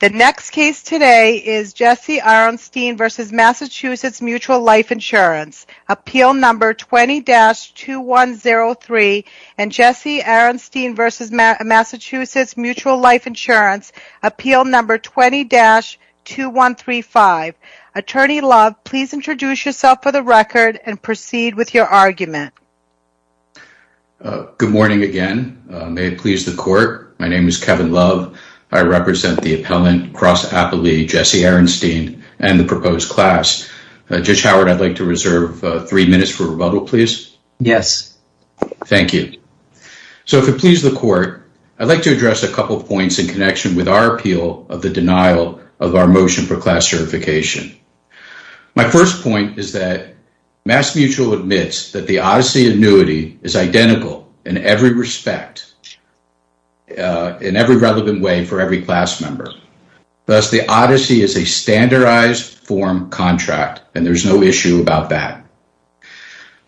The next case today is Jesse Aronstein v. Mass. Mutual Life Insurance, Appeal No. 20-2103 and Jesse Aronstein v. Mass. Mutual Life Insurance, Appeal No. 20-2135. Attorney Love, please introduce yourself for the record and proceed with your argument. Good morning again. May it please the Court, my name is Kevin Love. I represent the appellant, Cross Applee, Jesse Aronstein, and the proposed class. Judge Howard, I'd like to reserve three minutes for rebuttal, please. Yes. Thank you. So if it pleases the Court, I'd like to address a couple points in connection with our appeal of the denial of our motion for class certification. My first point is that Mass. Mutual admits that the Odyssey annuity is identical in every respect, in every relevant way for every class member. Thus, the Odyssey is a standardized form contract, and there's no issue about that.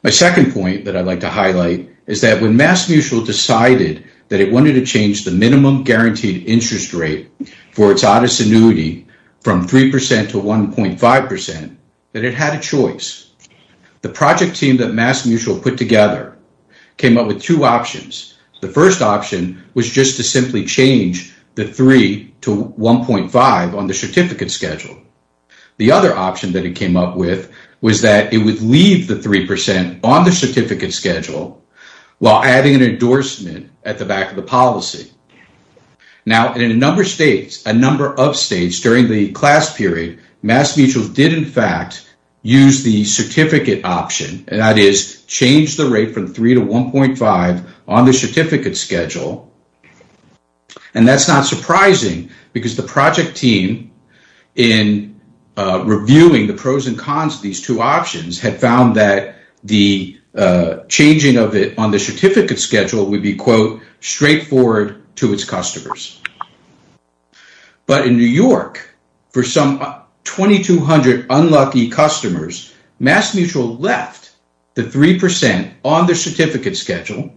My second point that I'd like to highlight is that when Mass. Mutual decided that it wanted to change the minimum guaranteed interest rate for its Odyssey annuity from 3% to 1.5%, that it had a choice. The project team that Mass. Mutual put together came up with two options. The first option was just to simply change the 3 to 1.5 on the certificate schedule. The other option that it came up with was that it would leave the 3% on the certificate schedule while adding an endorsement at the back of the policy. Now, in a number of states during the class period, Mass. Mutual did, in fact, use the certificate option, and that is change the rate from 3 to 1.5 on the certificate schedule. And that's not surprising because the project team, in reviewing the pros and cons of these two options, had found that the changing of it on the certificate schedule would be, quote, straightforward to its customers. But in New York, for some 2,200 unlucky customers, Mass. Mutual left the 3% on the certificate schedule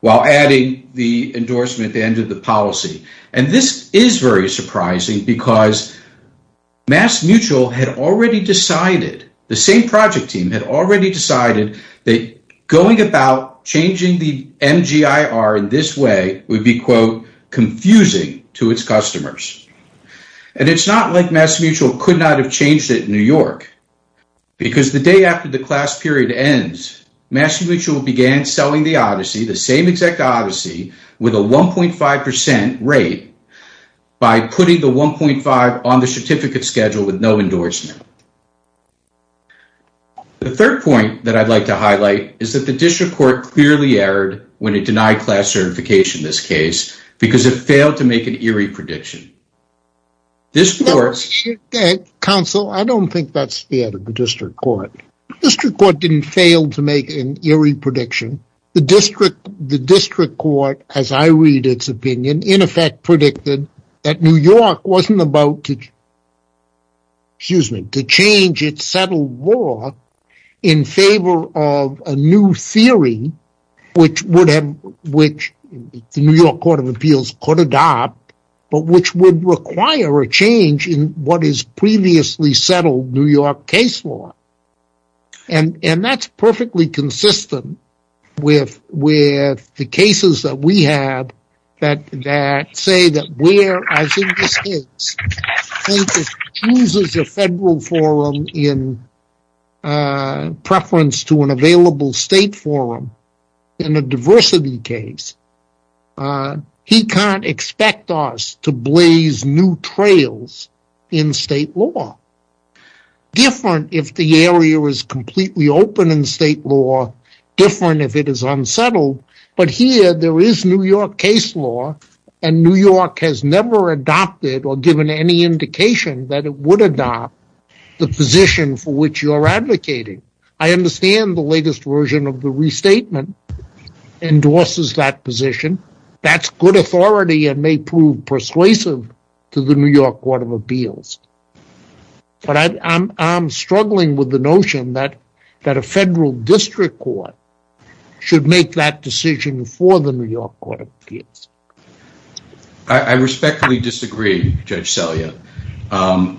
while adding the endorsement at the end of the policy. And this is very surprising because Mass. Mutual had already decided, the same project team had already decided that going about changing the MGIR in this way would be, quote, confusing to its customers. And it's not like Mass. Mutual could not have changed it in New York because the day after the class period ends, Mass. Mutual began selling the Odyssey, the same exact Odyssey, with a 1.5% rate by putting the 1.5 on the certificate schedule with no endorsement. The third point that I'd like to highlight is that the district court clearly erred when it denied class certification in this case because it failed to make an ERIE prediction. Counsel, I don't think that's fair to the district court. The district court didn't fail to make an ERIE prediction. The district court, as I read its opinion, in effect predicted that New York wasn't about to change its settled law in favor of a new theory, which the New York Court of Appeals could adopt, but which would require a change in what is previously settled New York case law. And that's perfectly consistent with the cases that we have that say that where, as in this case, if it chooses a federal forum in preference to an available state forum in a diversity case, he can't expect us to blaze new trails in state law. Different if the area is completely open in state law, different if it is unsettled, but here there is New York case law and New York has never adopted or given any indication that it would adopt the position for which you are advocating. I understand the latest version of the restatement endorses that position. That's good authority and may prove persuasive to the New York Court of Appeals, but I'm struggling with the notion that a federal district court should make that decision for the New York Court of Appeals. I respectfully disagree, Judge Selya, and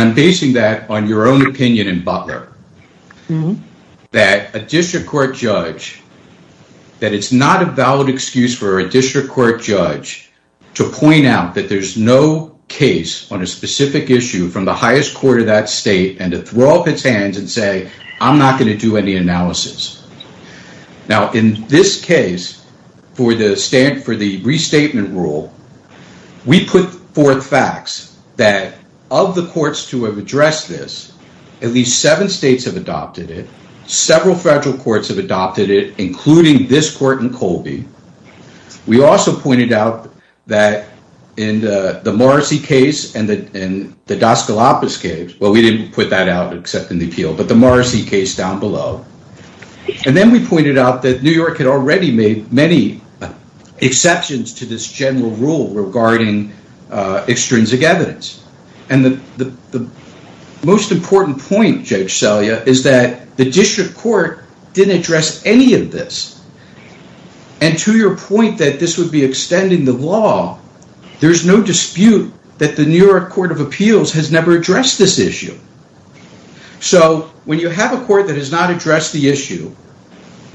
I'm basing that on your own opinion in Butler, that a district court judge, that it's not a valid excuse for a district court judge to point out that there's no case on a specific issue from the highest court of that state and to throw up its hands and say, I'm not going to do any analysis. Now, in this case, for the restatement rule, we put forth facts that of the courts to have addressed this, at least seven states have adopted it. Several federal courts have adopted it, including this court in Colby. We also pointed out that in the Morrissey case and the Dos Galapagos case, well, we didn't put that out except in the appeal, but the Morrissey case down below. And then we pointed out that New York had already made many exceptions to this general rule regarding extrinsic evidence. And the most important point, Judge Selya, is that the district court didn't address any of this. And to your point that this would be extending the law, there's no dispute that the New York Court of Appeals has never addressed this issue. So when you have a court that has not addressed the issue,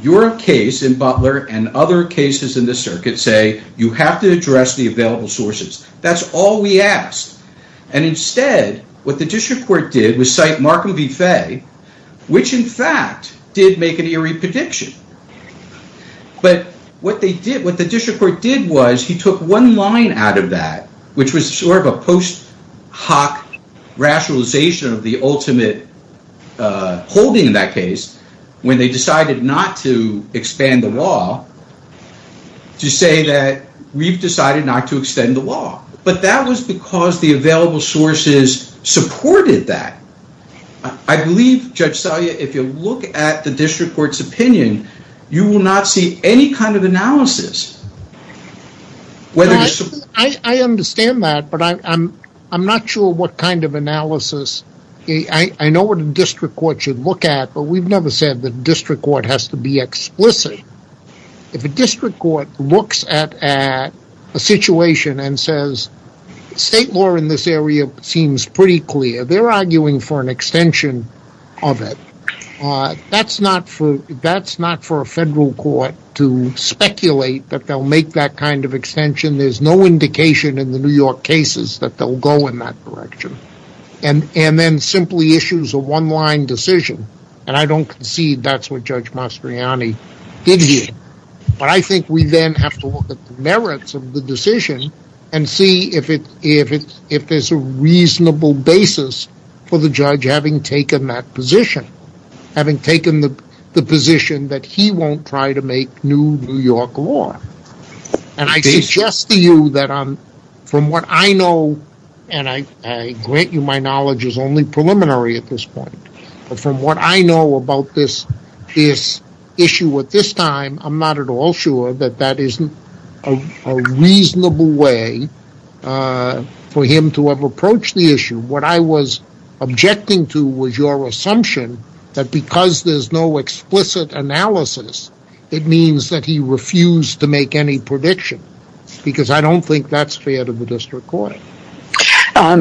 your case in Butler and other cases in the circuit say, you have to address the available sources. That's all we asked. And instead, what the district court did was cite Markham v. Fay, which in fact did make an eerie prediction. But what the district court did was he took one line out of that, which was sort of a post hoc rationalization of the ultimate holding in that case, when they decided not to expand the law, to say that we've decided not to extend the law. But that was because the available sources supported that. I believe, Judge Selya, if you look at the district court's opinion, you will not see any kind of analysis. I understand that, but I'm not sure what kind of analysis. I know what a district court should look at, but we've never said the district court has to be explicit. If a district court looks at a situation and says, state law in this area seems pretty clear, they're arguing for an extension of it. That's not for a federal court to speculate that they'll make that kind of extension. There's no indication in the New York cases that they'll go in that direction. And then simply issues a one line decision. And I don't concede that's what Judge Mastriani did here. But I think we then have to look at the merits of the decision and see if there's a reasonable basis for the judge having taken that position. Having taken the position that he won't try to make new New York law. And I suggest to you that from what I know, and I grant you my knowledge is only preliminary at this point, but from what I know about this issue at this time, I'm not at all sure that that is a reasonable way for him to have approached the issue. What I was objecting to was your assumption that because there's no explicit analysis, it means that he refused to make any prediction. Because I don't think that's fair to the district court.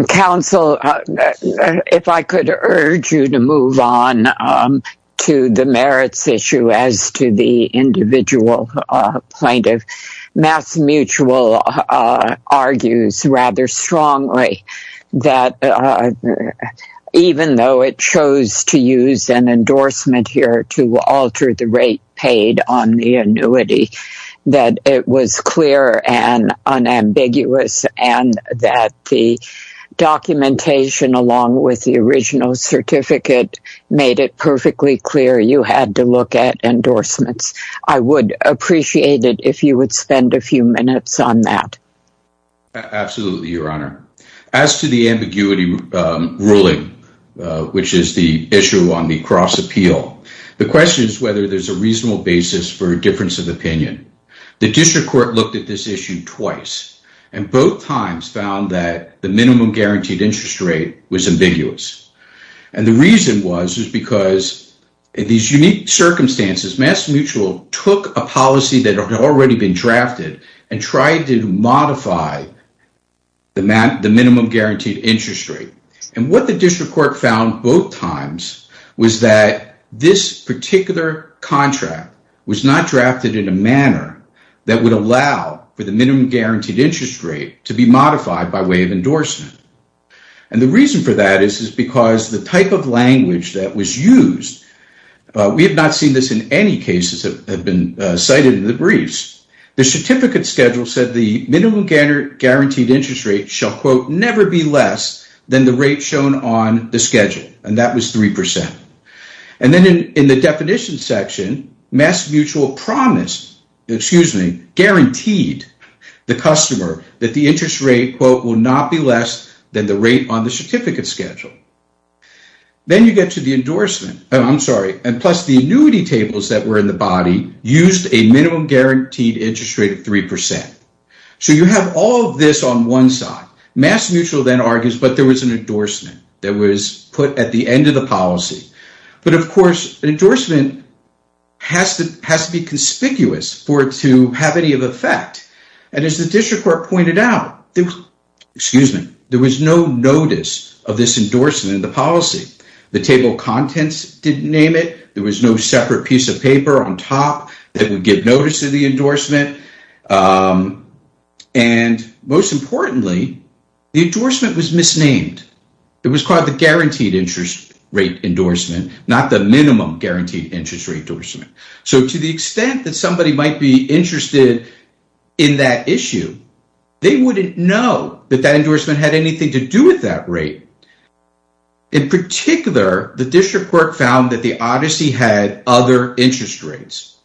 Counsel, if I could urge you to move on to the merits issue as to the individual plaintiff. MassMutual argues rather strongly that even though it chose to use an endorsement here to alter the rate paid on the annuity, that it was clear and unambiguous and that the documentation along with the original certificate made it perfectly clear you had to look at endorsements. I would appreciate it if you would spend a few minutes on that. Absolutely, Your Honor. As to the ambiguity ruling, which is the issue on the cross appeal, the question is whether there's a reasonable basis for a difference of opinion. The district court looked at this issue twice and both times found that the minimum guaranteed interest rate was ambiguous. The reason was because in these unique circumstances, MassMutual took a policy that had already been drafted and tried to modify the minimum guaranteed interest rate. What the district court found both times was that this particular contract was not drafted in a manner that would allow for the minimum guaranteed interest rate to be modified by way of endorsement. The reason for that is because the type of language that was used, we have not seen this in any cases that have been cited in the briefs. The certificate schedule said the minimum guaranteed interest rate shall quote never be less than the rate shown on the schedule and that was 3%. And then in the definition section, MassMutual promised, excuse me, guaranteed the customer that the interest rate quote will not be less than the rate on the certificate schedule. Then you get to the endorsement, I'm sorry, and plus the annuity tables that were in the body used a minimum guaranteed interest rate of 3%. So you have all of this on one side. MassMutual then argues that there was an endorsement that was put at the end of the policy. But of course, an endorsement has to be conspicuous for it to have any effect. And as the district court pointed out, there was no notice of this endorsement in the policy. The table of contents didn't name it. There was no separate piece of paper on top that would give notice of the endorsement. And most importantly, the endorsement was misnamed. It was called the guaranteed interest rate endorsement, not the minimum guaranteed interest rate endorsement. So to the extent that somebody might be interested in that issue, they wouldn't know that that endorsement had anything to do with that rate. In particular, the district court found that the Odyssey had other interest rates,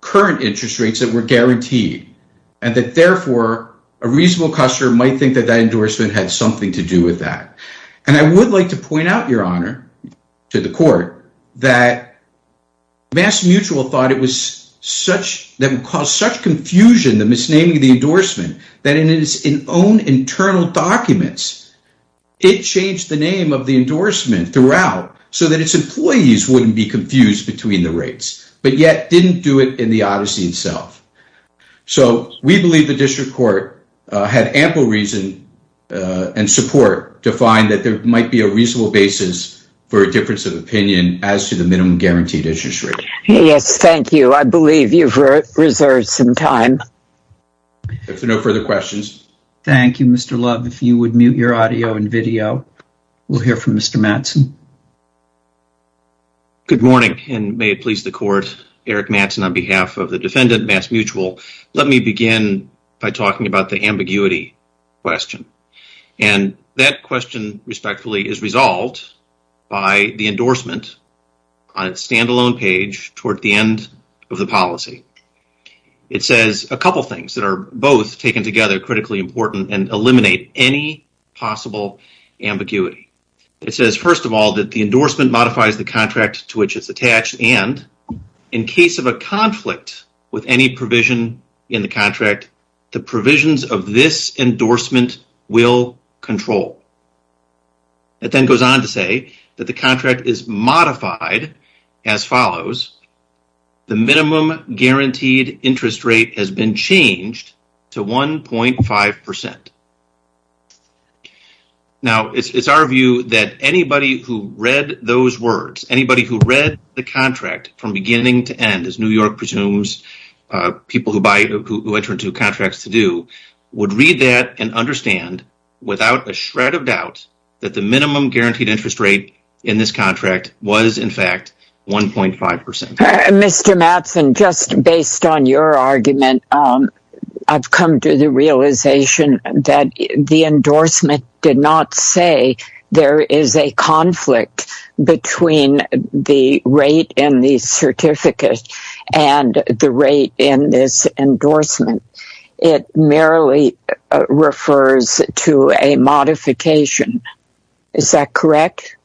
current interest rates that were guaranteed, and that therefore a reasonable customer might think that that endorsement had something to do with that. And I would like to point out, Your Honor, to the court, that MassMutual thought it would cause such confusion, the misnaming of the endorsement, that in its own internal documents, it changed the name of the endorsement throughout so that its employees wouldn't be confused between the rates, but yet didn't do it in the Odyssey itself. So we believe the district court had ample reason and support to find that there might be a reasonable basis for a difference of opinion as to the minimum guaranteed interest rate. Yes, thank you. I believe you've reserved some time. If there are no further questions. Thank you, Mr. Love. If you would mute your audio and video, we'll hear from Mr. Mattson. Good morning, and may it please the court. Eric Mattson on behalf of the defendant, MassMutual. Let me begin by talking about the ambiguity question. And that question, respectfully, is resolved by the endorsement on its standalone page toward the end of the policy. It says a couple things that are both taken together, critically important, and eliminate any possible ambiguity. It says, first of all, that the endorsement modifies the contract to which it's attached, and in case of a conflict with any provision in the contract, the provisions of this endorsement will control. It then goes on to say that the contract is modified as follows. The minimum guaranteed interest rate has been changed to 1.5%. Now, it's our view that anybody who read those words, anybody who read the contract from beginning to end, as New York presumes, people who buy, who enter into contracts to do, would read that and understand without a shred of doubt that the minimum guaranteed interest rate in this contract was, in fact, 1.5%. Mr. Mattson, just based on your argument, I've come to the realization that the endorsement did not say there is a conflict between the rate in the certificate and the rate in this endorsement. It merely refers to a modification. Is that correct?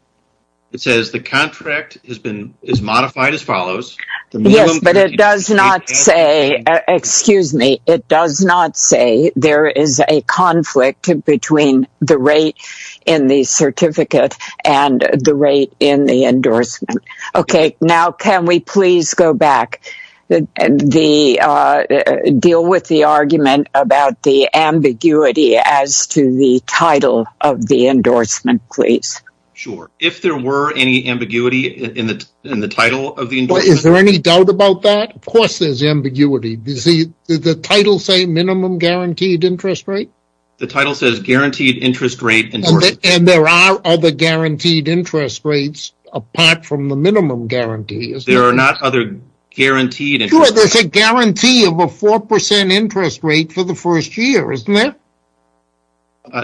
It says the contract is modified as follows. Yes, but it does not say, excuse me, it does not say there is a conflict between the rate in the certificate and the rate in the endorsement. Okay, now can we please go back and deal with the argument about the ambiguity as to the title of the endorsement, please? Sure, if there were any ambiguity in the title of the endorsement. Is there any doubt about that? Of course there's ambiguity. Does the title say minimum guaranteed interest rate? The title says guaranteed interest rate endorsement. And there are other guaranteed interest rates apart from the minimum guarantee. There are not other guaranteed interest rates. Sure, there's a guarantee of a 4% interest rate for the first year, isn't there?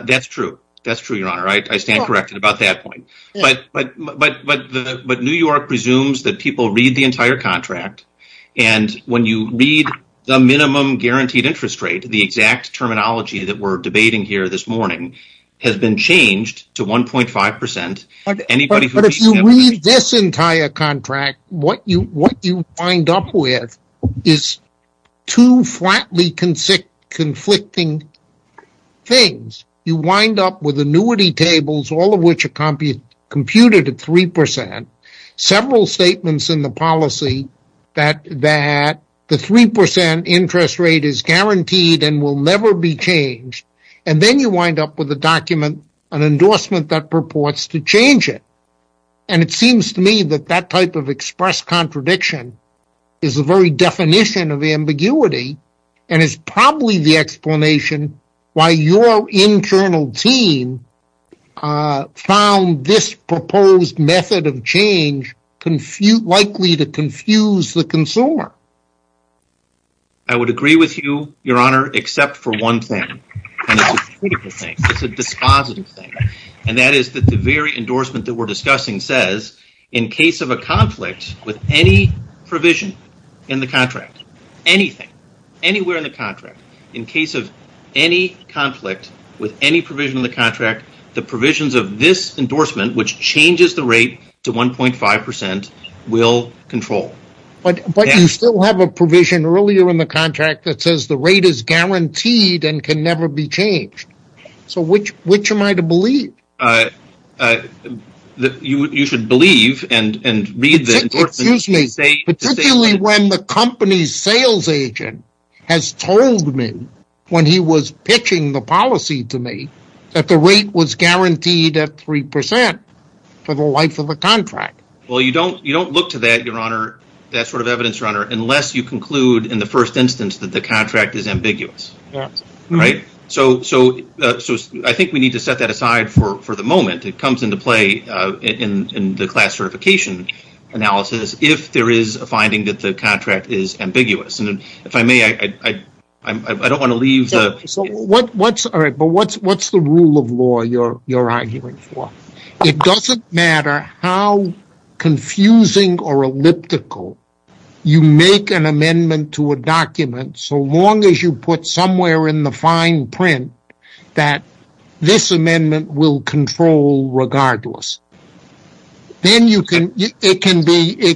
That's true, Your Honor. I stand corrected about that point. But New York presumes that people read the entire contract and when you read the minimum guaranteed interest rate, the exact terminology that we're debating here this morning has been changed to 1.5%. But if you read this entire contract, what you wind up with is two flatly conflicting things. You wind up with annuity tables, all of which are computed at 3%, several statements in the policy that the 3% interest rate is guaranteed and will never be changed. And then you wind up with an endorsement that purports to change it. And it seems to me that that type of express contradiction is the very definition of ambiguity and is probably the explanation why your internal team found this proposed method of change likely to confuse the consumer. I would agree with you, Your Honor, except for one thing. It's a dispositive thing. And that is that the very endorsement that we're discussing says, in case of a conflict with any provision in the contract, anything, anywhere in the contract, in case of any conflict with any provision in the contract, the provisions of this endorsement, which changes the rate to 1.5%, will control. But you still have a provision earlier in the contract that says the rate is guaranteed and can never be changed. So which am I to believe? You should believe and read the endorsement. Excuse me. Particularly when the company's sales agent has told me, when he was pitching the policy to me, that the rate was guaranteed at 3% for the life of the contract. Well, you don't look to that, Your Honor, that sort of evidence, Your Honor, unless you conclude in the first instance that the contract is ambiguous. Right? So I think we need to set that aside for the moment. It comes into play in the class certification analysis if there is a finding that the contract is ambiguous. And if I may, I don't want to leave. So what's the rule of law you're arguing for? It doesn't matter how confusing or elliptical you make an amendment to a document, so long as you put somewhere in the fine print that this amendment will control regardless. Then it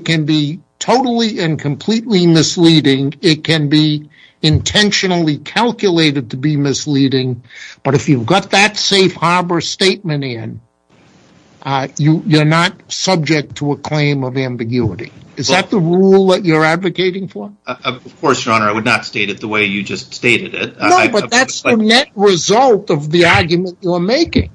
can be totally and completely misleading. It can be intentionally calculated to be misleading. But if you've got that safe harbor statement in, you're not subject to a claim of ambiguity. Is that the rule that you're advocating for? Of course, Your Honor. I would not state it the way you just stated it. No, but that's the net result of the argument you're making.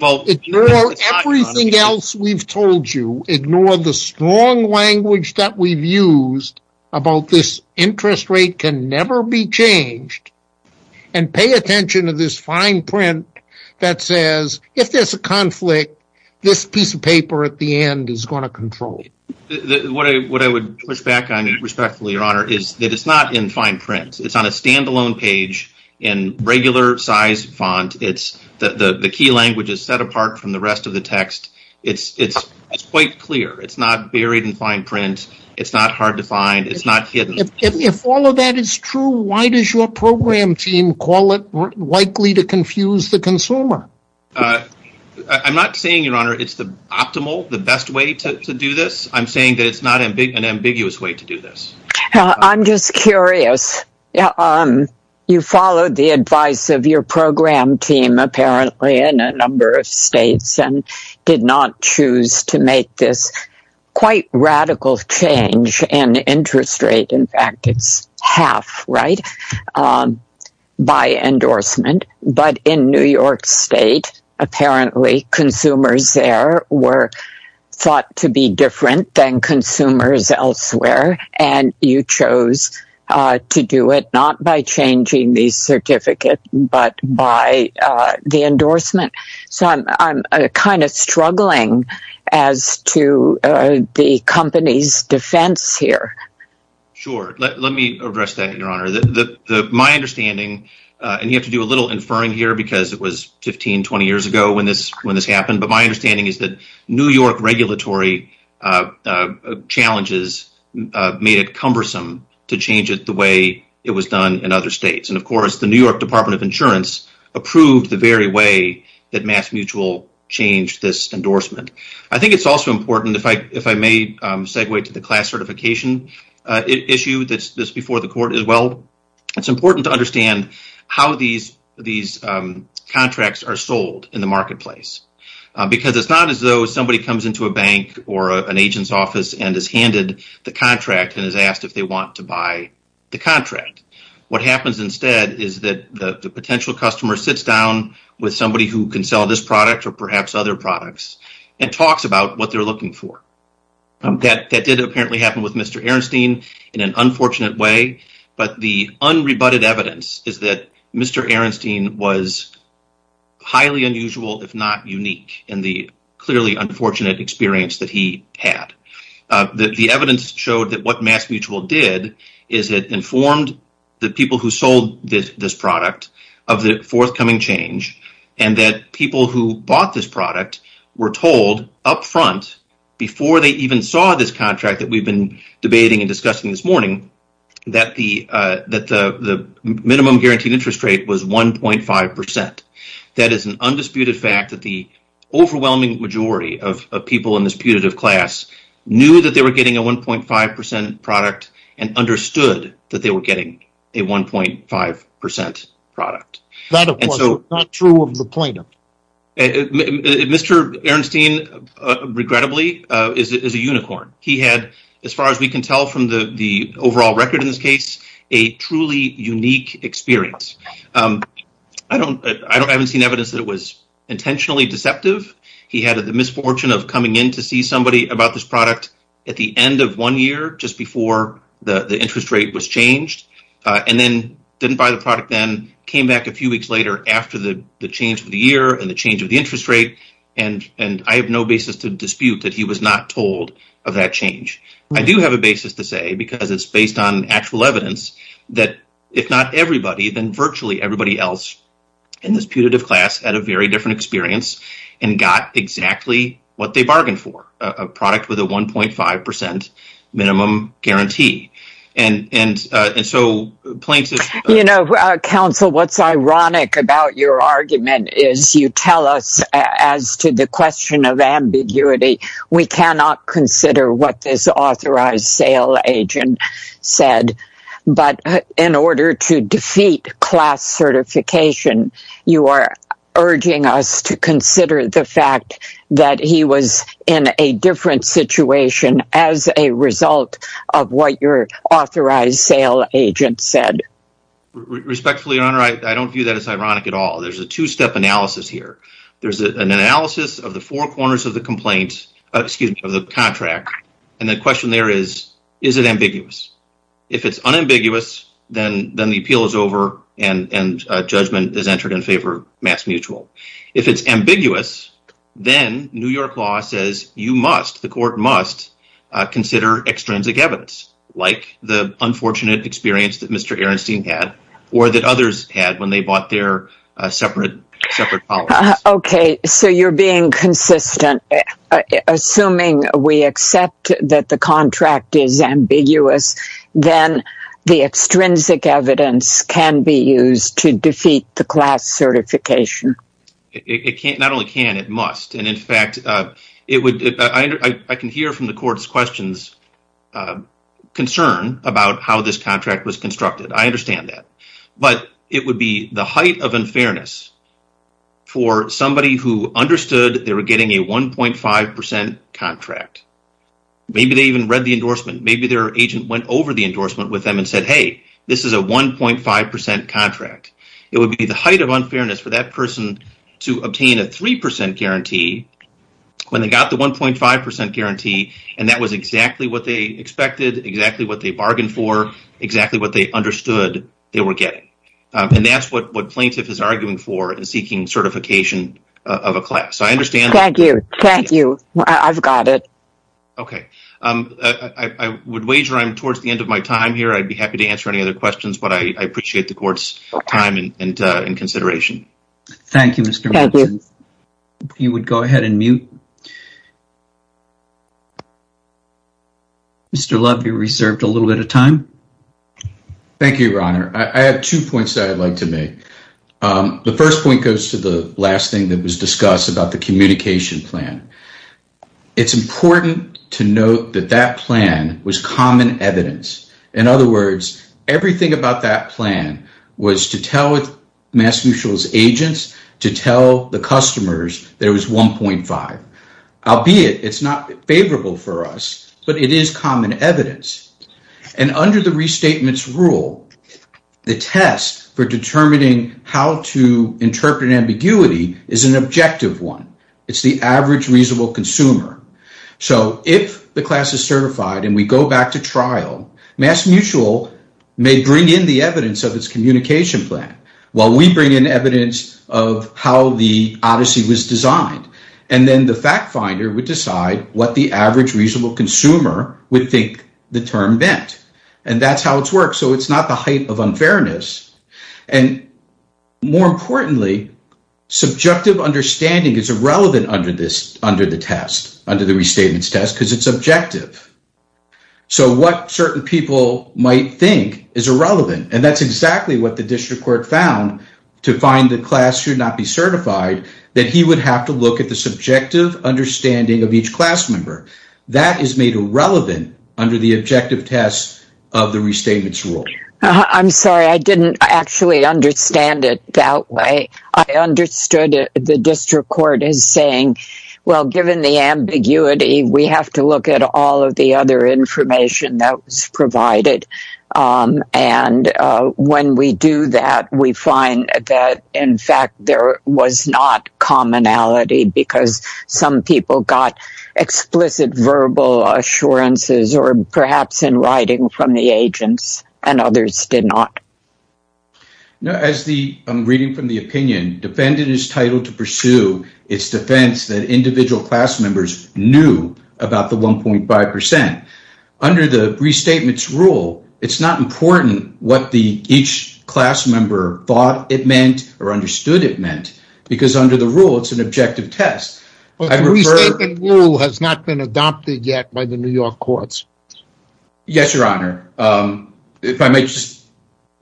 Ignore everything else we've told you. Ignore the strong language that we've used about this interest rate can never be changed. And pay attention to this fine print that says, if there's a conflict, this piece of paper at the end is going to control it. What I would push back on, respectfully, Your Honor, is that it's not in fine print. It's on a standalone page in regular size font. The key language is set apart from the rest of the text. It's quite clear. It's not buried in fine print. It's not hard to find. It's not hidden. If all of that is true, why does your program team call it likely to confuse the consumer? I'm not saying, Your Honor, it's the optimal, the best way to do this. I'm saying that it's not an ambiguous way to do this. I'm just curious. You followed the advice of your program team, apparently, in a number of states and did not choose to make this quite radical change in interest rate. In fact, it's half, right, by endorsement. But in New York State, apparently, consumers there were thought to be different than consumers elsewhere. And you chose to do it not by changing the certificate but by the endorsement. So I'm kind of struggling as to the company's defense here. Sure. Let me address that, Your Honor. My understanding, and you have to do a little inferring here because it was 15, 20 years ago when this happened. But my understanding is that New York regulatory challenges made it cumbersome to change it the way it was done in other states. And, of course, the New York Department of Insurance approved the very way that MassMutual changed this endorsement. I think it's also important, if I may segue to the class certification issue that's before the court as well, it's important to understand how these contracts are sold in the marketplace. Because it's not as though somebody comes into a bank or an agent's office and is handed the contract and is asked if they want to buy the contract. What happens instead is that the potential customer sits down with somebody who can sell this product or perhaps other products and talks about what they're looking for. That did apparently happen with Mr. Arenstein in an unfortunate way. But the unrebutted evidence is that Mr. Arenstein was highly unusual, if not unique, in the clearly unfortunate experience that he had. The evidence showed that what MassMutual did is it informed the people who sold this product of the forthcoming change and that people who bought this product were told up front, before they even saw this contract that we've been debating and discussing this morning, that the minimum guaranteed interest rate was 1.5%. That is an undisputed fact that the overwhelming majority of people in this putative class knew that they were getting a 1.5% product and understood that they were getting a 1.5% product. Mr. Arenstein, regrettably, is a unicorn. He had, as far as we can tell from the overall record in this case, a truly unique experience. I haven't seen evidence that it was intentionally deceptive. He had the misfortune of coming in to see somebody about this product at the end of one year, just before the interest rate was changed, and then didn't buy the product then, came back a few weeks later after the change of the year and the change of the interest rate, and I have no basis to dispute that he was not told of that change. I do have a basis to say, because it's based on actual evidence, that if not everybody, then virtually everybody else in this putative class had a very different experience and got exactly what they bargained for, a product with a 1.5% minimum guarantee. You know, counsel, what's ironic about your argument is you tell us, as to the question of ambiguity, we cannot consider what this authorized sale agent said, but in order to defeat class certification, you are urging us to consider the fact that he was in a different situation as a result of what your authorized sale agent said. Respectfully, Your Honor, I don't view that as ironic at all. There's a two-step analysis here. There's an analysis of the four corners of the complaint, excuse me, of the contract, and the question there is, is it ambiguous? If it's unambiguous, then the appeal is over and judgment is entered in favor of mass mutual. If it's ambiguous, then New York law says you must, the court must, consider extrinsic evidence, like the unfortunate experience that Mr. Ehrenstein had or that others had when they bought their separate policies. Okay, so you're being consistent. Assuming we accept that the contract is ambiguous, then the extrinsic evidence can be used to defeat the class certification. It can't, not only can, it must, and in fact, it would, I can hear from the court's questions, concern about how this contract was constructed. I understand that, but it would be the height of unfairness for somebody who understood they were getting a 1.5% contract. Maybe they even read the endorsement. Maybe their agent went over the endorsement with them and said, hey, this is a 1.5% contract. It would be the height of unfairness for that person to obtain a 3% guarantee when they got the 1.5% guarantee, and that was exactly what they expected, exactly what they bargained for, exactly what they understood they were getting. And that's what plaintiff is arguing for in seeking certification of a class. Thank you. Thank you. I've got it. Okay. I would wager I'm towards the end of my time here. I'd be happy to answer any other questions, but I appreciate the court's time and consideration. Thank you. You would go ahead and mute. Mr. Love, you're reserved a little bit of time. Thank you, Your Honor. I have two points that I'd like to make. The first point goes to the last thing that was discussed about the communication plan. It's important to note that that plan was common evidence. In other words, everything about that plan was to tell Mass Mutual's agents to tell the customers there was 1.5. Albeit it's not favorable for us, but it is common evidence. And under the restatements rule, the test for determining how to interpret an ambiguity is an objective one. It's the average reasonable consumer. So if the class is certified and we go back to trial, Mass Mutual may bring in the evidence of its communication plan, while we bring in evidence of how the odyssey was designed. And then the fact finder would decide what the average reasonable consumer would think the term meant. And that's how it works. So it's not the height of unfairness. And more importantly, subjective understanding is irrelevant under the test, under the restatements test, because it's objective. So what certain people might think is irrelevant. And that's exactly what the district court found to find the class should not be certified, that he would have to look at the subjective understanding of each class member. That is made irrelevant under the objective test of the restatements rule. I'm sorry, I didn't actually understand it that way. I understood the district court is saying, well, given the ambiguity, we have to look at all of the other information that was provided. And when we do that, we find that, in fact, there was not commonality, because some people got explicit verbal assurances, or perhaps in writing from the agents, and others did not. Now, as I'm reading from the opinion, defendant is titled to pursue its defense that individual class members knew about the 1.5%. Under the restatements rule, it's not important what each class member thought it meant or understood it meant, because under the rule, it's an objective test. The restatement rule has not been adopted yet by the New York courts. Yes, Your Honor. If I may just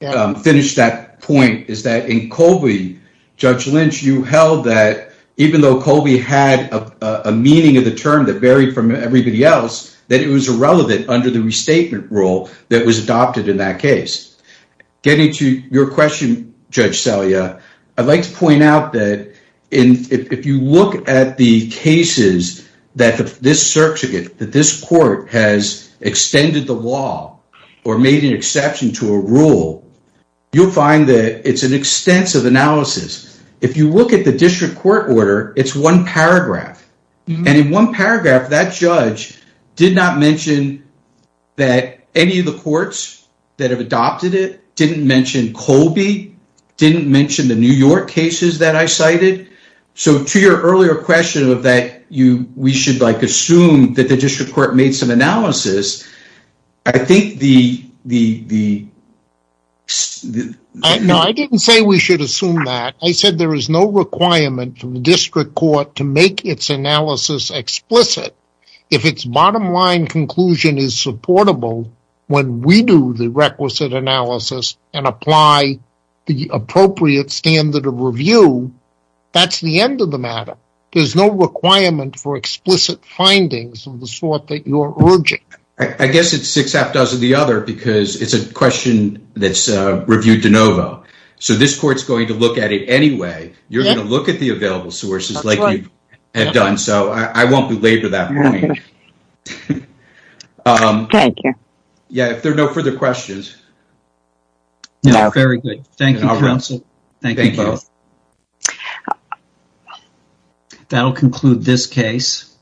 finish that point, is that in Colby, Judge Lynch, you held that even though Colby had a meaning of the term that varied from everybody else, that it was irrelevant under the restatement rule that was adopted in that case. Getting to your question, Judge Salia, I'd like to point out that if you look at the cases that this court has extended the law or made an exception to a rule, you'll find that it's an extensive analysis. If you look at the district court order, it's one paragraph. In one paragraph, that judge did not mention that any of the courts that have adopted it didn't mention Colby, didn't mention the New York cases that I cited. To your earlier question of that we should assume that the district court made some analysis, I think the... No, I didn't say we should assume that. I said there is no requirement for the district court to make its analysis explicit. If its bottom line conclusion is supportable when we do the requisite analysis and apply the appropriate standard of review, that's the end of the matter. There's no requirement for explicit findings of the sort that you're urging. I guess it's six afters of the other because it's a question that's reviewed de novo. So this court's going to look at it anyway. You're going to look at the available sources like you have done. So I won't belabor that point. Thank you. Yeah, if there are no further questions... No, very good. Thank you, counsel. Thank you both. That'll conclude this case.